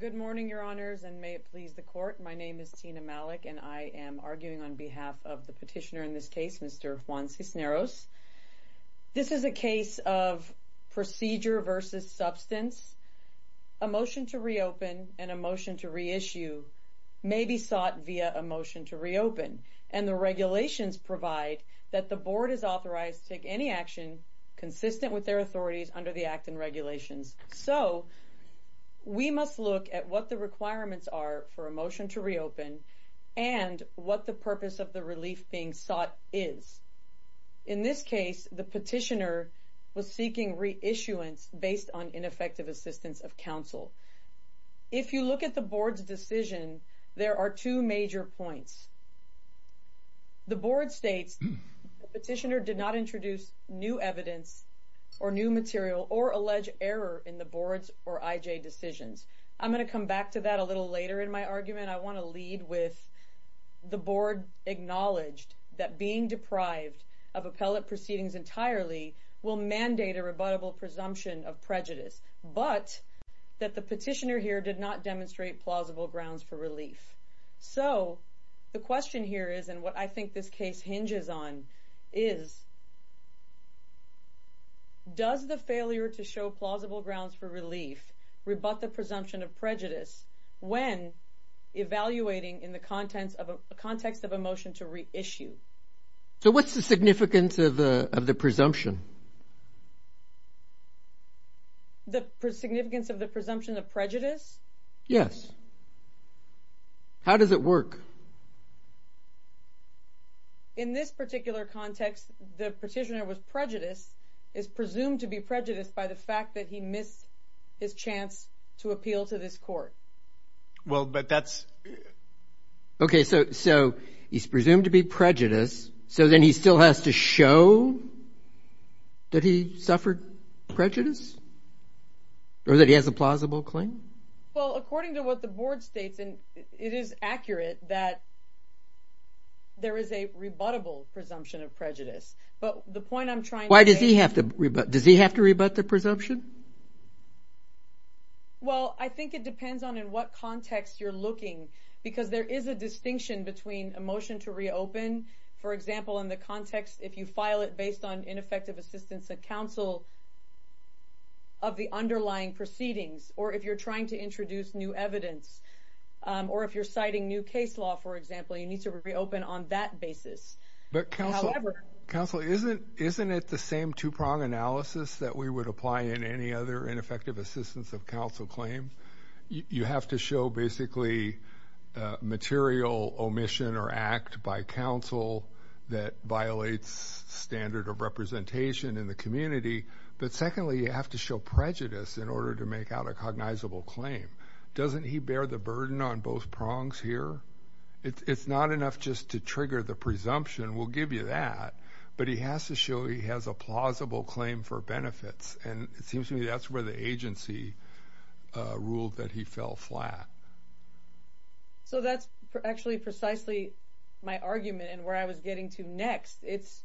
Good morning, your honors, and may it please the court. My name is Tina Malik, and I am arguing on behalf of the petitioner in this case, Mr. Juan Cisneros. This is a case of procedure versus substance. A motion to reopen and a motion to reissue may be sought via a motion to reopen, and the regulations provide that the board is authorized to take any action consistent with their authorities under the act and regulations. So we must look at what the requirements are for a motion to reopen and what the purpose of the relief being sought is. In this case, the petitioner was seeking reissuance based on ineffective assistance of counsel. If you look at the board's decision, there are two major points. The board states the petitioner did not introduce new evidence or new material or allege error in the board's or I.J.'s decisions. I'm going to come back to that a little later in my argument. I want to lead with the board acknowledged that being deprived of appellate proceedings entirely will mandate a rebuttable presumption of prejudice, but that the petitioner here did not demonstrate plausible grounds for relief. So the question here is, and what I think this case hinges on, is does the failure to show plausible grounds for relief rebut the presumption of prejudice when evaluating in the context of a motion to reissue? So what's the significance of the presumption? The significance of the presumption of prejudice? Yes. How does it work? In this particular context, the petitioner was prejudiced, is presumed to be prejudiced by the fact that he missed his chance to appeal to this court. Okay, so he's presumed to be prejudiced, so then he still has to show that he suffered prejudice or that he has a plausible claim? Well, according to what the board states, it is accurate that there is a rebuttable presumption of prejudice. Why does he have to rebut? Does he have to rebut the presumption? Well, I think it depends on in what context you're looking, because there is a distinction between a motion to reopen. For example, in the context, if you file it based on ineffective assistance of counsel of the underlying proceedings, or if you're trying to introduce new evidence, or if you're citing new case law, for example, you need to reopen on that basis. Counsel, isn't it the same two-prong analysis that we would apply in any other ineffective assistance of counsel claim? You have to show basically material omission or act by counsel that violates standard of representation in the community. But secondly, you have to show prejudice in order to make out a cognizable claim. Doesn't he bear the burden on both prongs here? It's not enough just to trigger the presumption. We'll give you that. But he has to show he has a plausible claim for benefits. And it seems to me that's where the agency ruled that he fell flat. So that's actually precisely my argument and where I was getting to next. It's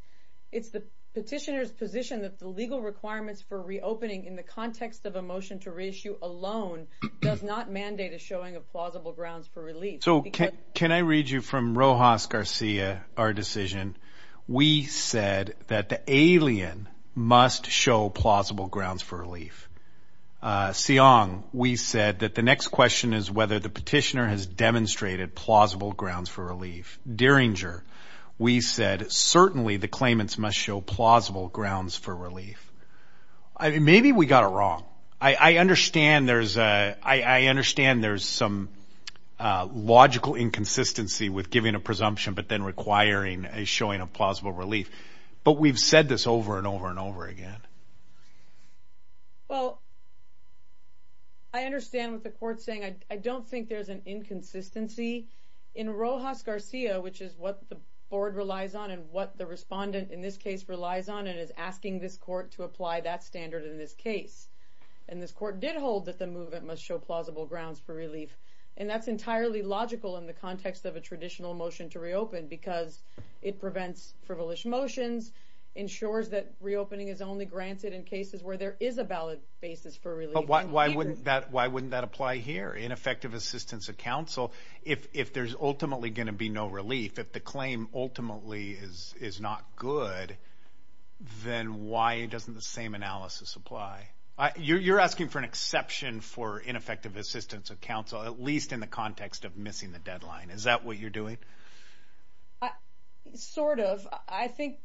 the petitioner's position that the legal requirements for reopening in the context of a motion to reissue alone does not mandate a showing of plausible grounds for relief. So can I read you from Rojas Garcia, our decision? We said that the alien must show plausible grounds for relief. Siong, we said that the next question is whether the petitioner has demonstrated plausible grounds for relief. Derringer, we said certainly the claimants must show plausible grounds for relief. Maybe we got it wrong. I understand there's some logical inconsistency with giving a presumption but then requiring a showing of plausible relief. But we've said this over and over and over again. Well, I understand what the court's saying. I don't think there's an inconsistency in Rojas Garcia, which is what the board relies on and what the respondent in this case relies on and is asking this court to apply that standard in this case. And this court did hold that the movement must show plausible grounds for relief. And that's entirely logical in the context of a traditional motion to reopen because it prevents frivolous motions, ensures that reopening is only granted in cases where there is a valid basis for relief. Well, why wouldn't that apply here? Ineffective assistance of counsel. If there's ultimately going to be no relief, if the claim ultimately is not good, then why doesn't the same analysis apply? You're asking for an exception for ineffective assistance of counsel, at least in the context of missing the deadline. Is that what you're doing? Sort of. I think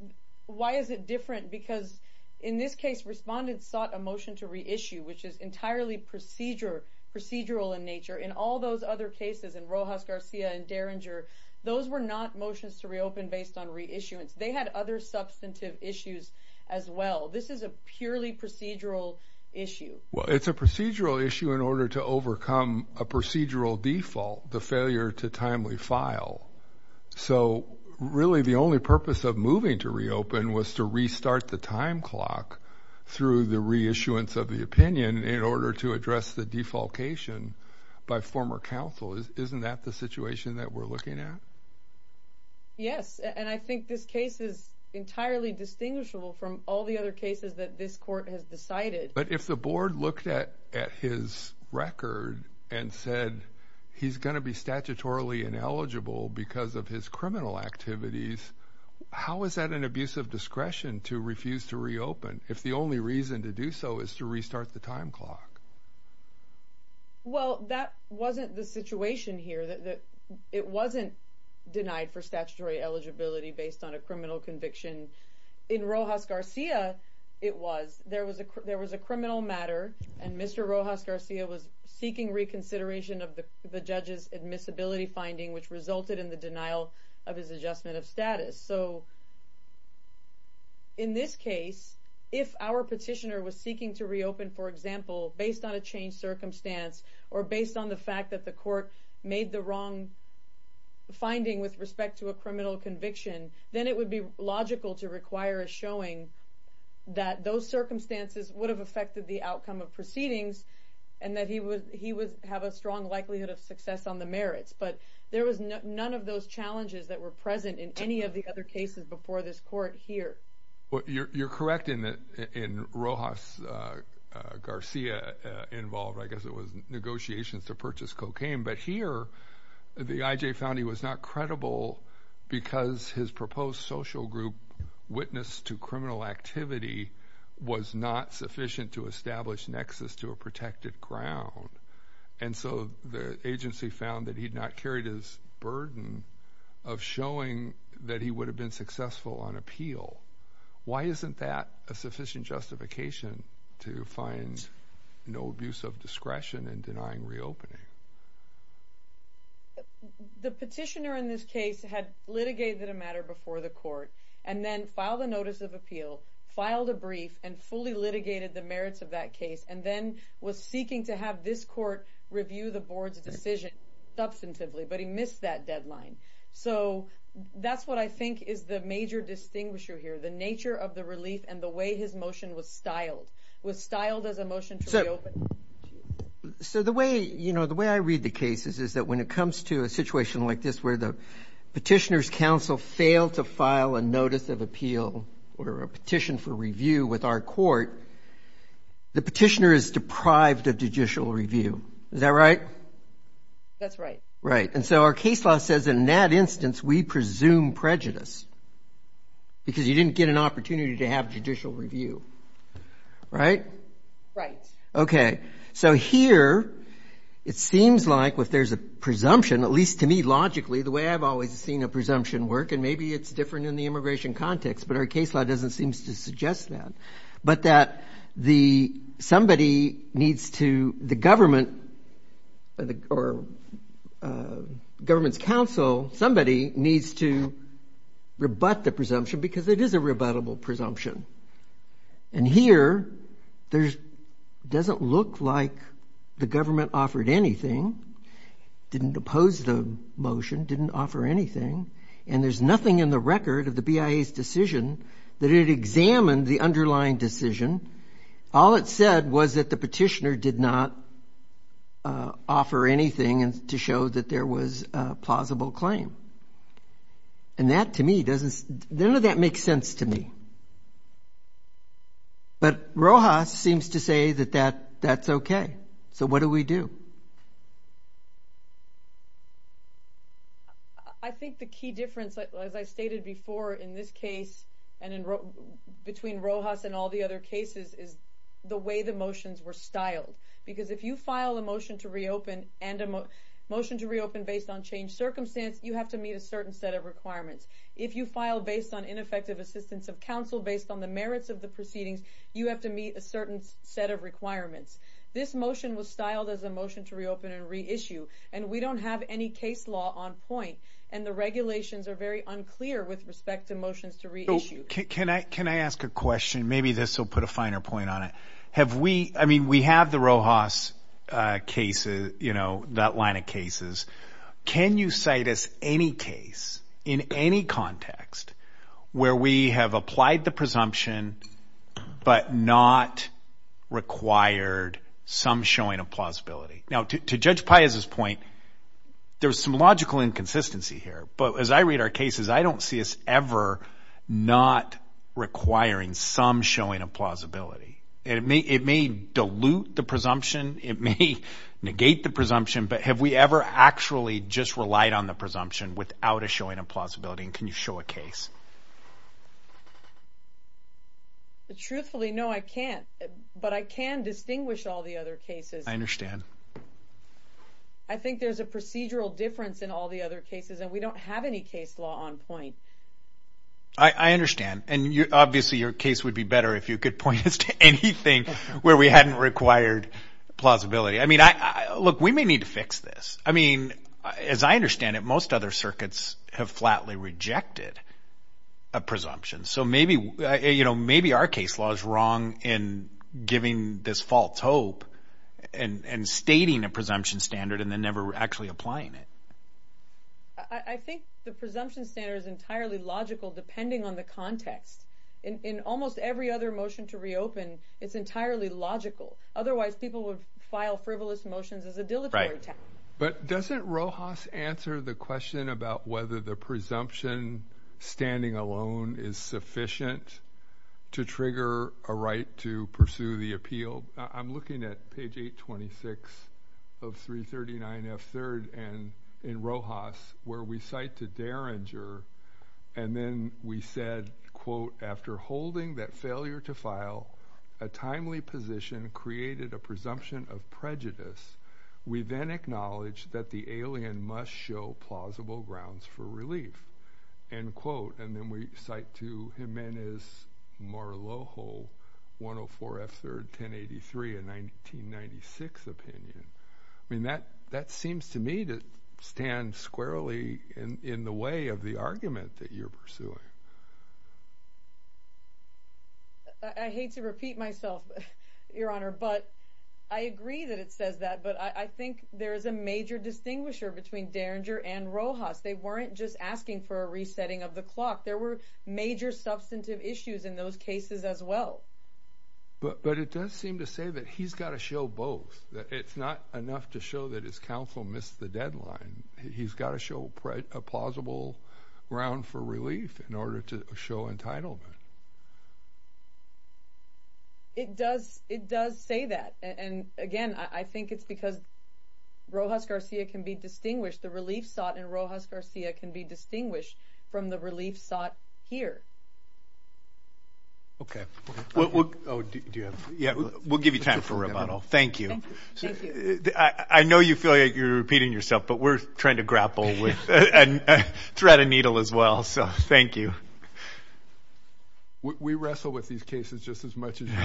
why is it different? Because in this case, respondents sought a motion to reissue, which is entirely procedure procedural in nature. In all those other cases in Rojas Garcia and Derringer, those were not motions to reopen based on reissuance. They had other substantive issues as well. This is a purely procedural issue. Well, it's a procedural issue in order to overcome a procedural default, the failure to timely file. So really, the only purpose of moving to reopen was to restart the time clock through the reissuance of the opinion in order to address the defalcation by former counsel. Isn't that the situation that we're looking at? Yes, and I think this case is entirely distinguishable from all the other cases that this court has decided. But if the board looked at his record and said he's going to be statutorily ineligible because of his criminal activities, how is that an abuse of discretion to refuse to reopen if the only reason to do so is to restart the time clock? Well, that wasn't the situation here. It wasn't denied for statutory eligibility based on a criminal conviction. In Rojas Garcia, it was. There was a criminal matter, and Mr. Rojas Garcia was seeking reconsideration of the judge's admissibility finding, which resulted in the denial of his adjustment of status. So in this case, if our petitioner was seeking to reopen, for example, based on a changed circumstance or based on the fact that the court made the wrong finding with respect to a criminal conviction, then it would be logical to require a showing that those circumstances would have affected the outcome of proceedings and that he would have a strong likelihood of success on the merits. But there was none of those challenges that were present in any of the other cases before this court here. You're correct in Rojas Garcia involved, I guess it was negotiations to purchase cocaine. But here the IJ found he was not credible because his proposed social group witness to criminal activity was not sufficient to establish nexus to a protected ground. And so the agency found that he'd not carried his burden of showing that he would have been successful on appeal. Why isn't that a sufficient justification to find no abuse of discretion in denying reopening? The petitioner in this case had litigated a matter before the court and then filed a notice of appeal, filed a brief and fully litigated the merits of that case, and then was seeking to have this court review the board's decision substantively, but he missed that deadline. So that's what I think is the major distinguisher here, the nature of the relief and the way his motion was styled. It was styled as a motion to reopen. So the way, you know, the way I read the cases is that when it comes to a situation like this where the petitioner's counsel failed to file a notice of appeal or a petition for review with our court, the petitioner is deprived of judicial review. Is that right? That's right. Right. And so our case law says in that instance we presume prejudice because you didn't get an opportunity to have judicial review. Right? Right. Okay. So here it seems like if there's a presumption, at least to me logically, the way I've always seen a presumption work, and maybe it's different in the immigration context, but our case law doesn't seem to suggest that, but that somebody needs to, the government or government's counsel, somebody needs to rebut the presumption because it is a rebuttable presumption. And here it doesn't look like the government offered anything, didn't oppose the motion, didn't offer anything, and there's nothing in the record of the BIA's decision that it examined the underlying decision. All it said was that the petitioner did not offer anything to show that there was a plausible claim. And that, to me, doesn't, none of that makes sense to me. But Rojas seems to say that that's okay. So what do we do? I think the key difference, as I stated before in this case and between Rojas and all the other cases, is the way the motions were styled. Because if you file a motion to reopen based on changed circumstance, you have to meet a certain set of requirements. If you file based on ineffective assistance of counsel, based on the merits of the proceedings, you have to meet a certain set of requirements. This motion was styled as a motion to reopen and reissue. And we don't have any case law on point. And the regulations are very unclear with respect to motions to reissue. Can I ask a question? Maybe this will put a finer point on it. Have we, I mean, we have the Rojas cases, you know, that line of cases. Can you cite us any case in any context where we have applied the presumption but not required some showing of plausibility? Now, to Judge Paez's point, there's some logical inconsistency here. But as I read our cases, I don't see us ever not requiring some showing of plausibility. It may dilute the presumption. It may negate the presumption. But have we ever actually just relied on the presumption without a showing of plausibility? And can you show a case? Truthfully, no, I can't. But I can distinguish all the other cases. I think there's a procedural difference in all the other cases. And we don't have any case law on point. I understand. And obviously your case would be better if you could point us to anything where we hadn't required plausibility. I mean, look, we may need to fix this. I mean, as I understand it, most other circuits have flatly rejected a presumption. So maybe our case law is wrong in giving this false hope and stating a presumption standard and then never actually applying it. I think the presumption standard is entirely logical depending on the context. In almost every other motion to reopen, it's entirely logical. Otherwise, people would file frivolous motions as a dilatory tactic. Right. But doesn't Rojas answer the question about whether the presumption standing alone is sufficient to trigger a right to pursue the appeal? I'm looking at page 826 of 339F3rd in Rojas where we cite to Derringer, and then we said, quote, after holding that failure to file a timely position created a presumption of prejudice, we then acknowledge that the alien must show plausible grounds for relief, end quote. And then we cite to Jimenez-Morloho, 104F3rd, 1083, a 1996 opinion. I mean, that seems to me to stand squarely in the way of the argument that you're pursuing. I hate to repeat myself, Your Honor, but I agree that it says that, but I think there is a major distinguisher between Derringer and Rojas. They weren't just asking for a resetting of the clock. There were major substantive issues in those cases as well. But it does seem to say that he's got to show both. It's not enough to show that his counsel missed the deadline. He's got to show a plausible ground for relief in order to show entitlement. It does say that. And, again, I think it's because Rojas Garcia can be distinguished. The relief sought in Rojas Garcia can be distinguished from the relief sought here. Okay. We'll give you time for rebuttal. Thank you. I know you feel like you're repeating yourself, but we're trying to grapple with a thread and needle as well, so thank you. We wrestle with these cases just as much as you do,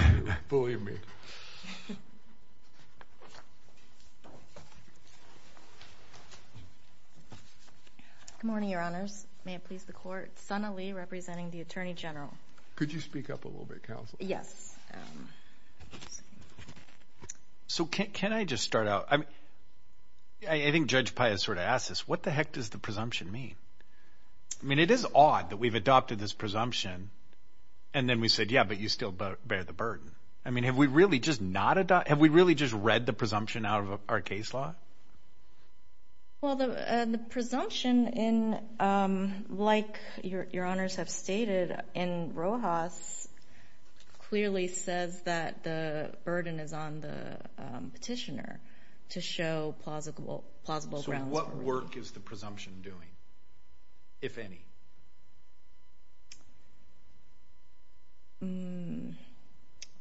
believe me. Good morning, Your Honors. May it please the Court. It's Sana Lee representing the Attorney General. Could you speak up a little bit, Counsel? Yes. So can I just start out? I think Judge Paez sort of asked this. What the heck does the presumption mean? I mean, it is odd that we've adopted this presumption and then we said, yeah, but you still bear the burden. I mean, have we really just read the presumption out of our case law? Well, the presumption, like Your Honors have stated, in Rojas clearly says that the burden is on the petitioner to show plausible grounds. So what work is the presumption doing, if any?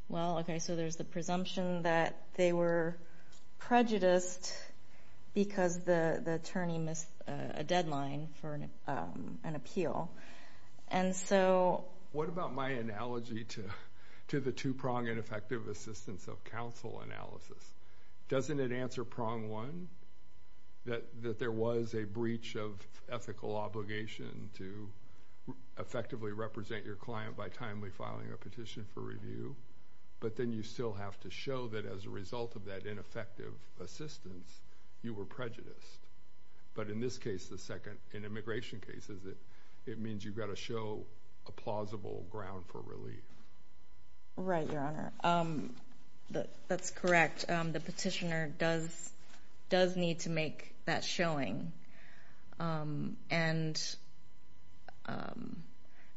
Well, okay, so there's the presumption that they were prejudiced because the attorney missed a deadline for an appeal. What about my analogy to the two-prong ineffective assistance of counsel analysis? Doesn't it answer prong one, that there was a breach of ethical obligation to effectively represent your client by timely filing a petition for review, but then you still have to show that as a result of that ineffective assistance, you were prejudiced? But in this case, the second, in immigration cases, it means you've got to show a plausible ground for relief. Right, Your Honor. That's correct. But the petitioner does need to make that showing. And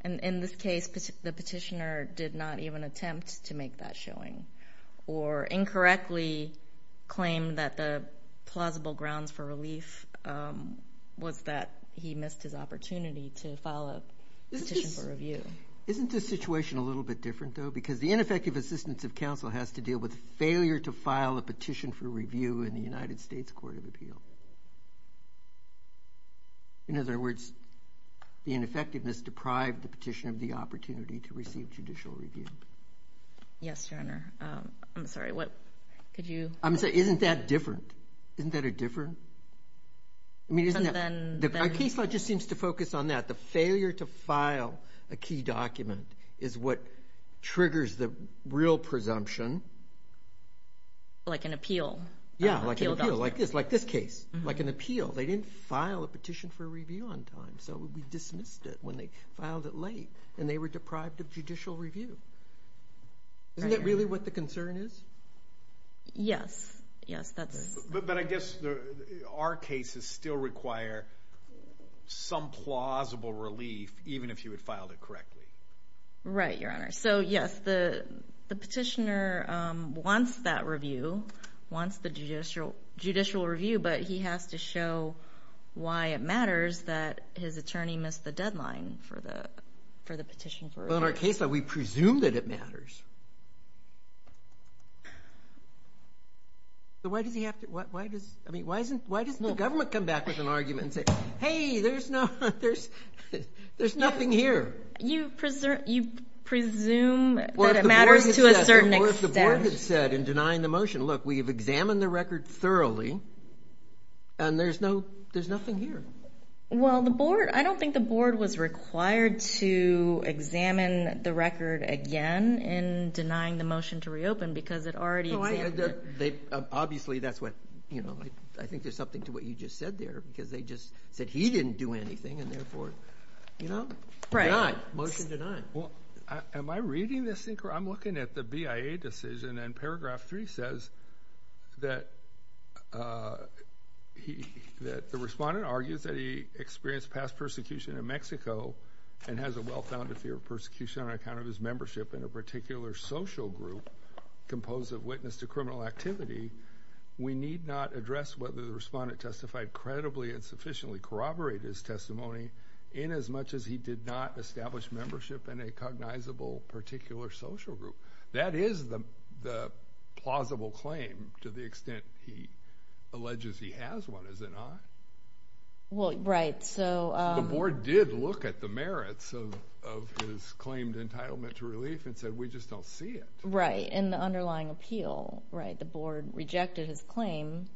in this case, the petitioner did not even attempt to make that showing or incorrectly claim that the plausible grounds for relief was that he missed his opportunity to file a petition for review. Isn't this situation a little bit different, though? Because the ineffective assistance of counsel has to deal with the failure to file a petition for review in the United States Court of Appeal. In other words, the ineffectiveness deprived the petitioner of the opportunity to receive judicial review. Yes, Your Honor. I'm sorry, what could you – Isn't that different? Isn't that different? I mean, isn't that – Our case law just seems to focus on that. The failure to file a key document is what triggers the real presumption. Like an appeal. Yeah, like an appeal. Like this case. Like an appeal. They didn't file a petition for review on time, so we dismissed it when they filed it late, and they were deprived of judicial review. Isn't that really what the concern is? Yes, yes, that's it. But I guess our cases still require some plausible relief, even if you had filed it correctly. Right, Your Honor. So, yes, the petitioner wants that review, wants the judicial review, but he has to show why it matters that his attorney missed the deadline for the petition for review. Well, in our case law, we presume that it matters. So why does he have to – I mean, why doesn't the government come back with an argument and say, hey, there's nothing here? You presume that it matters to a certain extent. Or if the board had said in denying the motion, look, we have examined the record thoroughly, and there's nothing here. Well, I don't think the board was required to examine the record again in denying the motion to reopen because it already examined it. Obviously, that's what – I think there's something to what you just said there because they just said he didn't do anything, and therefore, you know. Right. Motion denied. Am I reading this – I'm looking at the BIA decision, and paragraph three says that the respondent argues that he experienced past persecution in Mexico and has a well-founded fear of persecution on account of his membership in a particular social group composed of witness to criminal activity. We need not address whether the respondent testified credibly and sufficiently corroborate his testimony in as much as he did not establish membership in a cognizable particular social group. That is the plausible claim to the extent he alleges he has one, is it not? Well, right. The board did look at the merits of his claimed entitlement to relief and said, we just don't see it. Right. In the underlying appeal, right, the board rejected his claim.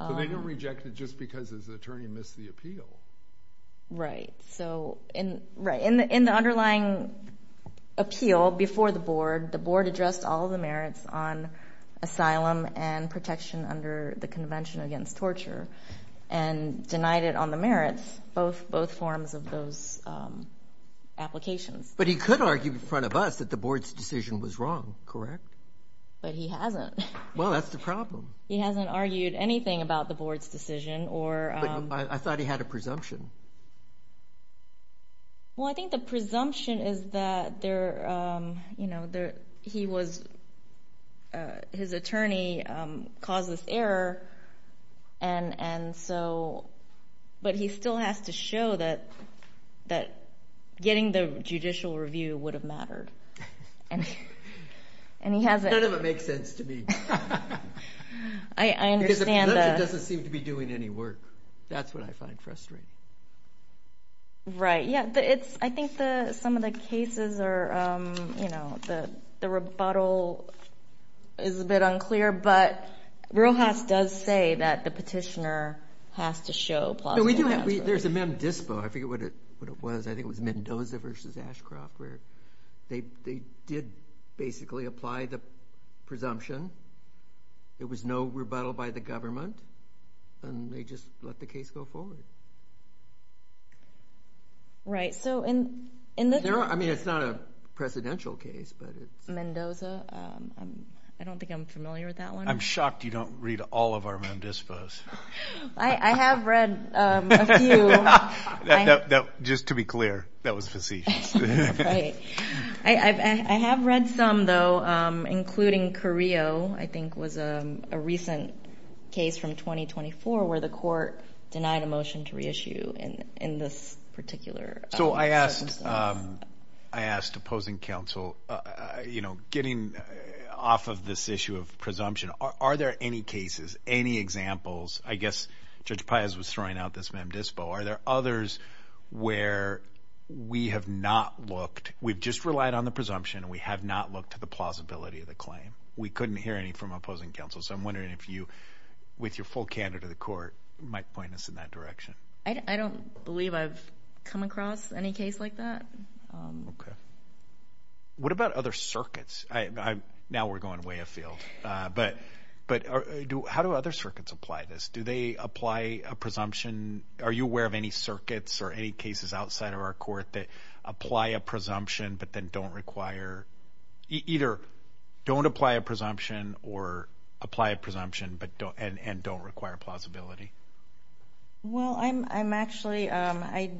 They didn't reject it just because his attorney missed the appeal. Right. In the underlying appeal before the board, the board addressed all the merits on asylum and protection under the Convention Against Torture and denied it on the merits, both forms of those applications. But he could argue in front of us that the board's decision was wrong, correct? But he hasn't. Well, that's the problem. He hasn't argued anything about the board's decision. I thought he had a presumption. Well, I think the presumption is that his attorney caused this error but he still has to show that getting the judicial review would have mattered. None of it makes sense to me. I understand that. Because the presumption doesn't seem to be doing any work. That's what I find frustrating. Right. Yeah, I think some of the cases are, you know, the rebuttal is a bit unclear, but Rojas does say that the petitioner has to show plausible hands. There's a mem dispo. I forget what it was. I think it was Mendoza v. Ashcroft where they did basically apply the presumption. There was no rebuttal by the government, and they just let the case go forward. Right. I mean, it's not a presidential case. Mendoza? I don't think I'm familiar with that one. I'm shocked you don't read all of our mem dispos. I have read a few. Just to be clear, that was facetious. Right. I have read some, though, including Carrillo, I think was a recent case from 2024 where the court denied a motion to reissue in this particular circumstance. I asked opposing counsel, you know, getting off of this issue of presumption, are there any cases, any examples? I guess Judge Paez was throwing out this mem dispo. Are there others where we have not looked? We've just relied on the presumption. We have not looked at the plausibility of the claim. We couldn't hear any from opposing counsel, so I'm wondering if you, with your full candor to the court, might point us in that direction. I don't believe I've come across any case like that. Okay. What about other circuits? Now we're going way afield. But how do other circuits apply this? Do they apply a presumption? Are you aware of any circuits or any cases outside of our court that apply a presumption but then don't require, either don't apply a presumption or apply a presumption and don't require plausibility? Well, I'm actually, I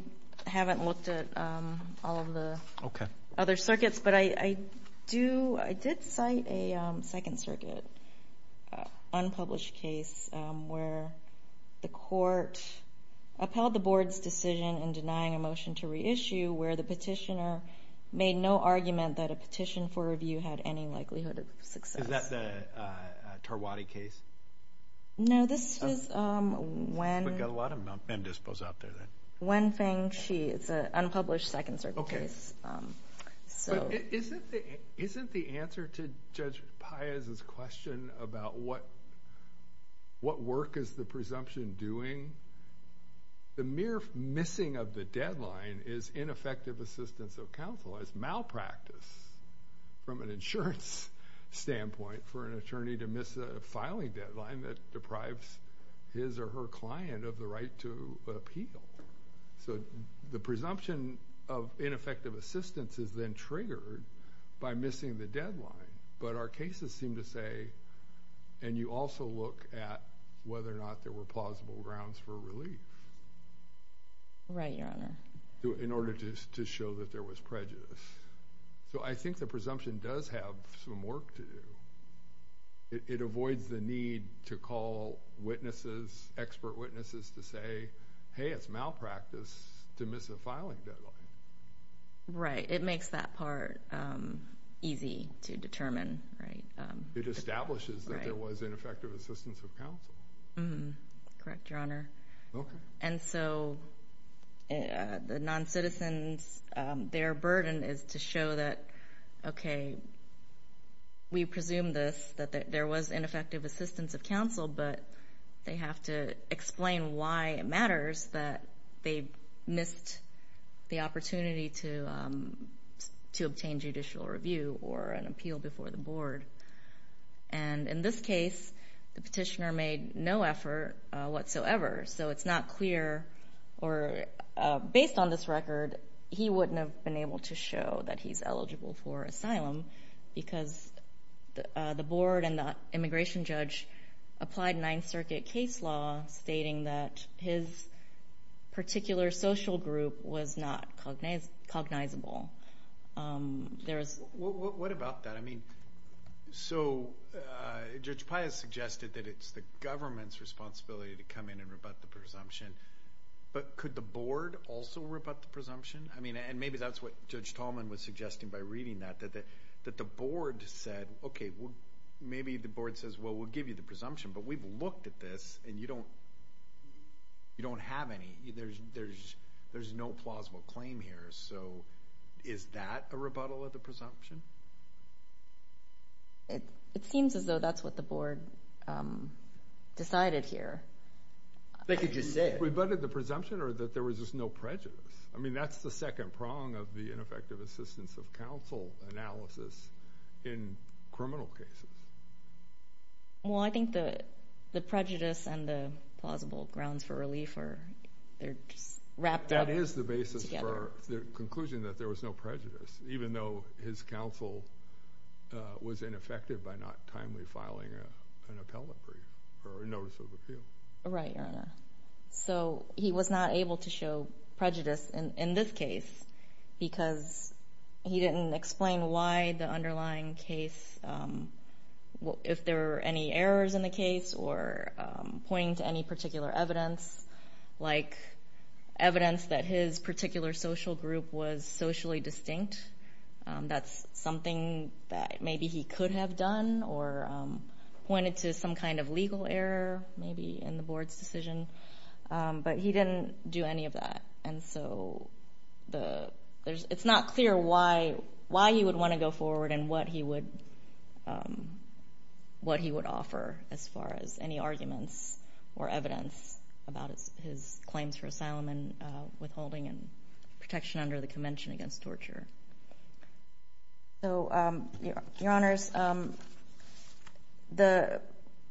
haven't looked at all of the other circuits. But I do, I did cite a Second Circuit unpublished case where the court upheld the board's decision in denying a motion to reissue where the petitioner made no argument that a petition for review had any likelihood of success. Is that the Tarwadi case? No, this is Wen Feng Chi. It's an unpublished Second Circuit case. But isn't the answer to Judge Paez's question about what work is the presumption doing, the mere missing of the deadline is ineffective assistance of counsel. It's malpractice from an insurance standpoint for an attorney to miss a filing deadline that deprives his or her client of the right to appeal. So the presumption of ineffective assistance is then triggered by missing the deadline. But our cases seem to say, and you also look at whether or not there were plausible grounds for relief. Right, Your Honor. In order to show that there was prejudice. So I think the presumption does have some work to do. It avoids the need to call witnesses, expert witnesses, to say, hey, it's malpractice to miss a filing deadline. Right, it makes that part easy to determine. It establishes that there was ineffective assistance of counsel. Correct, Your Honor. And so the noncitizens, their burden is to show that, okay, we presume this, that there was ineffective assistance of counsel, but they have to explain why it matters that they missed the opportunity to obtain judicial review or an appeal before the board. And in this case, the petitioner made no effort whatsoever. So it's not clear, or based on this record, he wouldn't have been able to show that he's eligible for asylum because the board and the immigration judge applied Ninth Circuit case law stating that his particular social group was not cognizable. What about that? I mean, so Judge Paya suggested that it's the government's responsibility to come in and rebut the presumption, but could the board also rebut the presumption? I mean, and maybe that's what Judge Tallman was suggesting by reading that, that the board said, okay, maybe the board says, well, we'll give you the presumption, but we've looked at this and you don't have any. There's no plausible claim here. So is that a rebuttal of the presumption? It seems as though that's what the board decided here. They could just say it. Rebutted the presumption or that there was just no prejudice? I mean, that's the second prong of the ineffective assistance of counsel analysis in criminal cases. Well, I think the prejudice and the plausible grounds for relief are just wrapped up together. Or the conclusion that there was no prejudice, even though his counsel was ineffective by not timely filing an appellate brief or a notice of appeal. Right, Your Honor. So he was not able to show prejudice in this case because he didn't explain why the underlying case, if there were any errors in the case or pointing to any particular evidence, like evidence that his particular social group was socially distinct. That's something that maybe he could have done or pointed to some kind of legal error maybe in the board's decision. But he didn't do any of that. And so it's not clear why he would want to go forward and what he would offer as far as any arguments or evidence about his claims for asylum and withholding and protection under the Convention Against Torture. So, Your Honors, the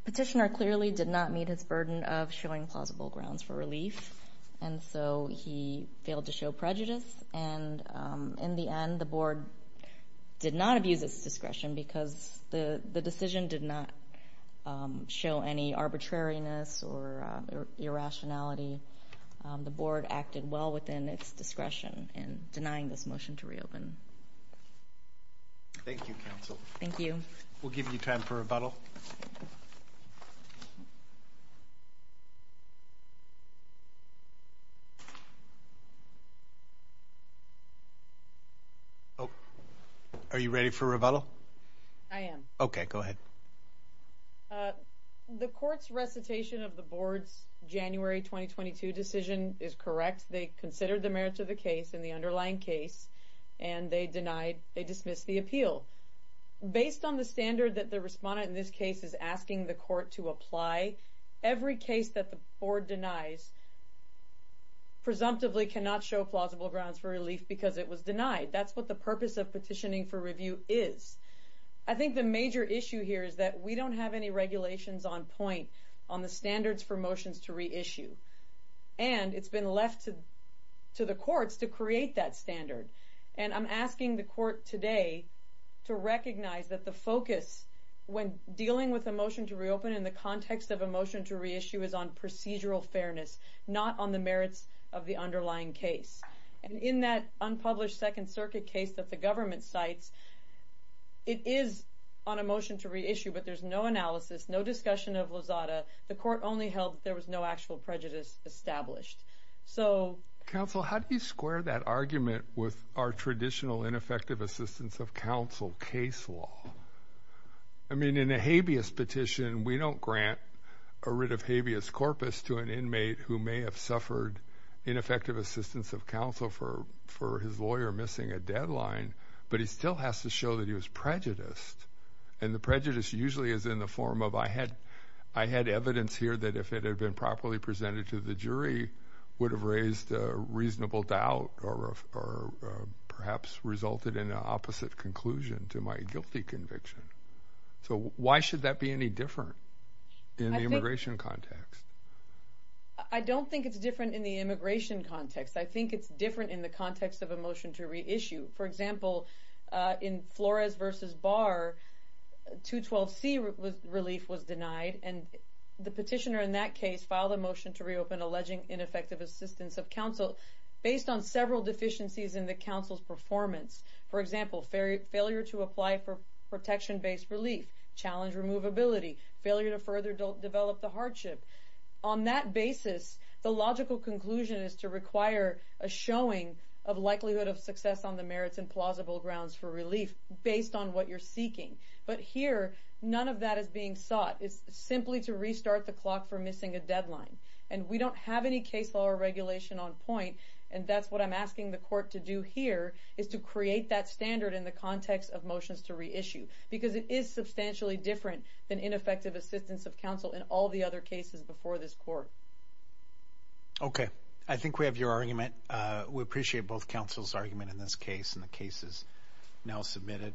petitioner clearly did not meet his burden of showing plausible grounds for relief. And so he failed to show prejudice. And in the end, the board did not abuse its discretion because the decision did not show any arbitrariness or irrationality. The board acted well within its discretion in denying this motion to reopen. Thank you, counsel. Thank you. We'll give you time for rebuttal. Are you ready for rebuttal? I am. Okay, go ahead. The court's recitation of the board's January 2022 decision is correct. They considered the merits of the case in the underlying case and they dismissed the appeal. Based on the standard that the respondent in this case is asking the court to apply, every case that the board denies presumptively cannot show plausible grounds for relief because it was denied. That's what the purpose of petitioning for review is. I think the major issue here is that we don't have any regulations on point on the standards for motions to reissue. And it's been left to the courts to create that standard. And I'm asking the court today to recognize that the focus, when dealing with a motion to reopen in the context of a motion to reissue, is on procedural fairness, not on the merits of the underlying case. And in that unpublished Second Circuit case that the government cites, it is on a motion to reissue, but there's no analysis, no discussion of Lozada. The court only held that there was no actual prejudice established. Counsel, how do you square that argument with our traditional ineffective assistance of counsel case law? I mean, in a habeas petition, we don't grant a writ of habeas corpus to an inmate who may have suffered ineffective assistance of counsel for his lawyer missing a deadline, but he still has to show that he was prejudiced. And the prejudice usually is in the form of, I had evidence here that if it had been properly presented to the jury, would have raised a reasonable doubt or perhaps resulted in an opposite conclusion to my guilty conviction. So why should that be any different in the immigration context? I don't think it's different in the immigration context. I think it's different in the context of a motion to reissue. For example, in Flores versus Barr, 212C relief was denied, and the petitioner in that case filed a motion to reopen alleging ineffective assistance of counsel based on several deficiencies in the counsel's performance. For example, failure to apply for protection-based relief, challenge removability, failure to further develop the hardship. On that basis, the logical conclusion is to require a showing of likelihood of success on the merits and plausible grounds for relief based on what you're seeking. But here, none of that is being sought. It's simply to restart the clock for missing a deadline. And we don't have any case law or regulation on point, and that's what I'm asking the court to do here, is to create that standard in the context of motions to reissue because it is substantially different than ineffective assistance of counsel in all the other cases before this court. Okay. I think we have your argument. We appreciate both counsel's argument in this case, and the case is now submitted.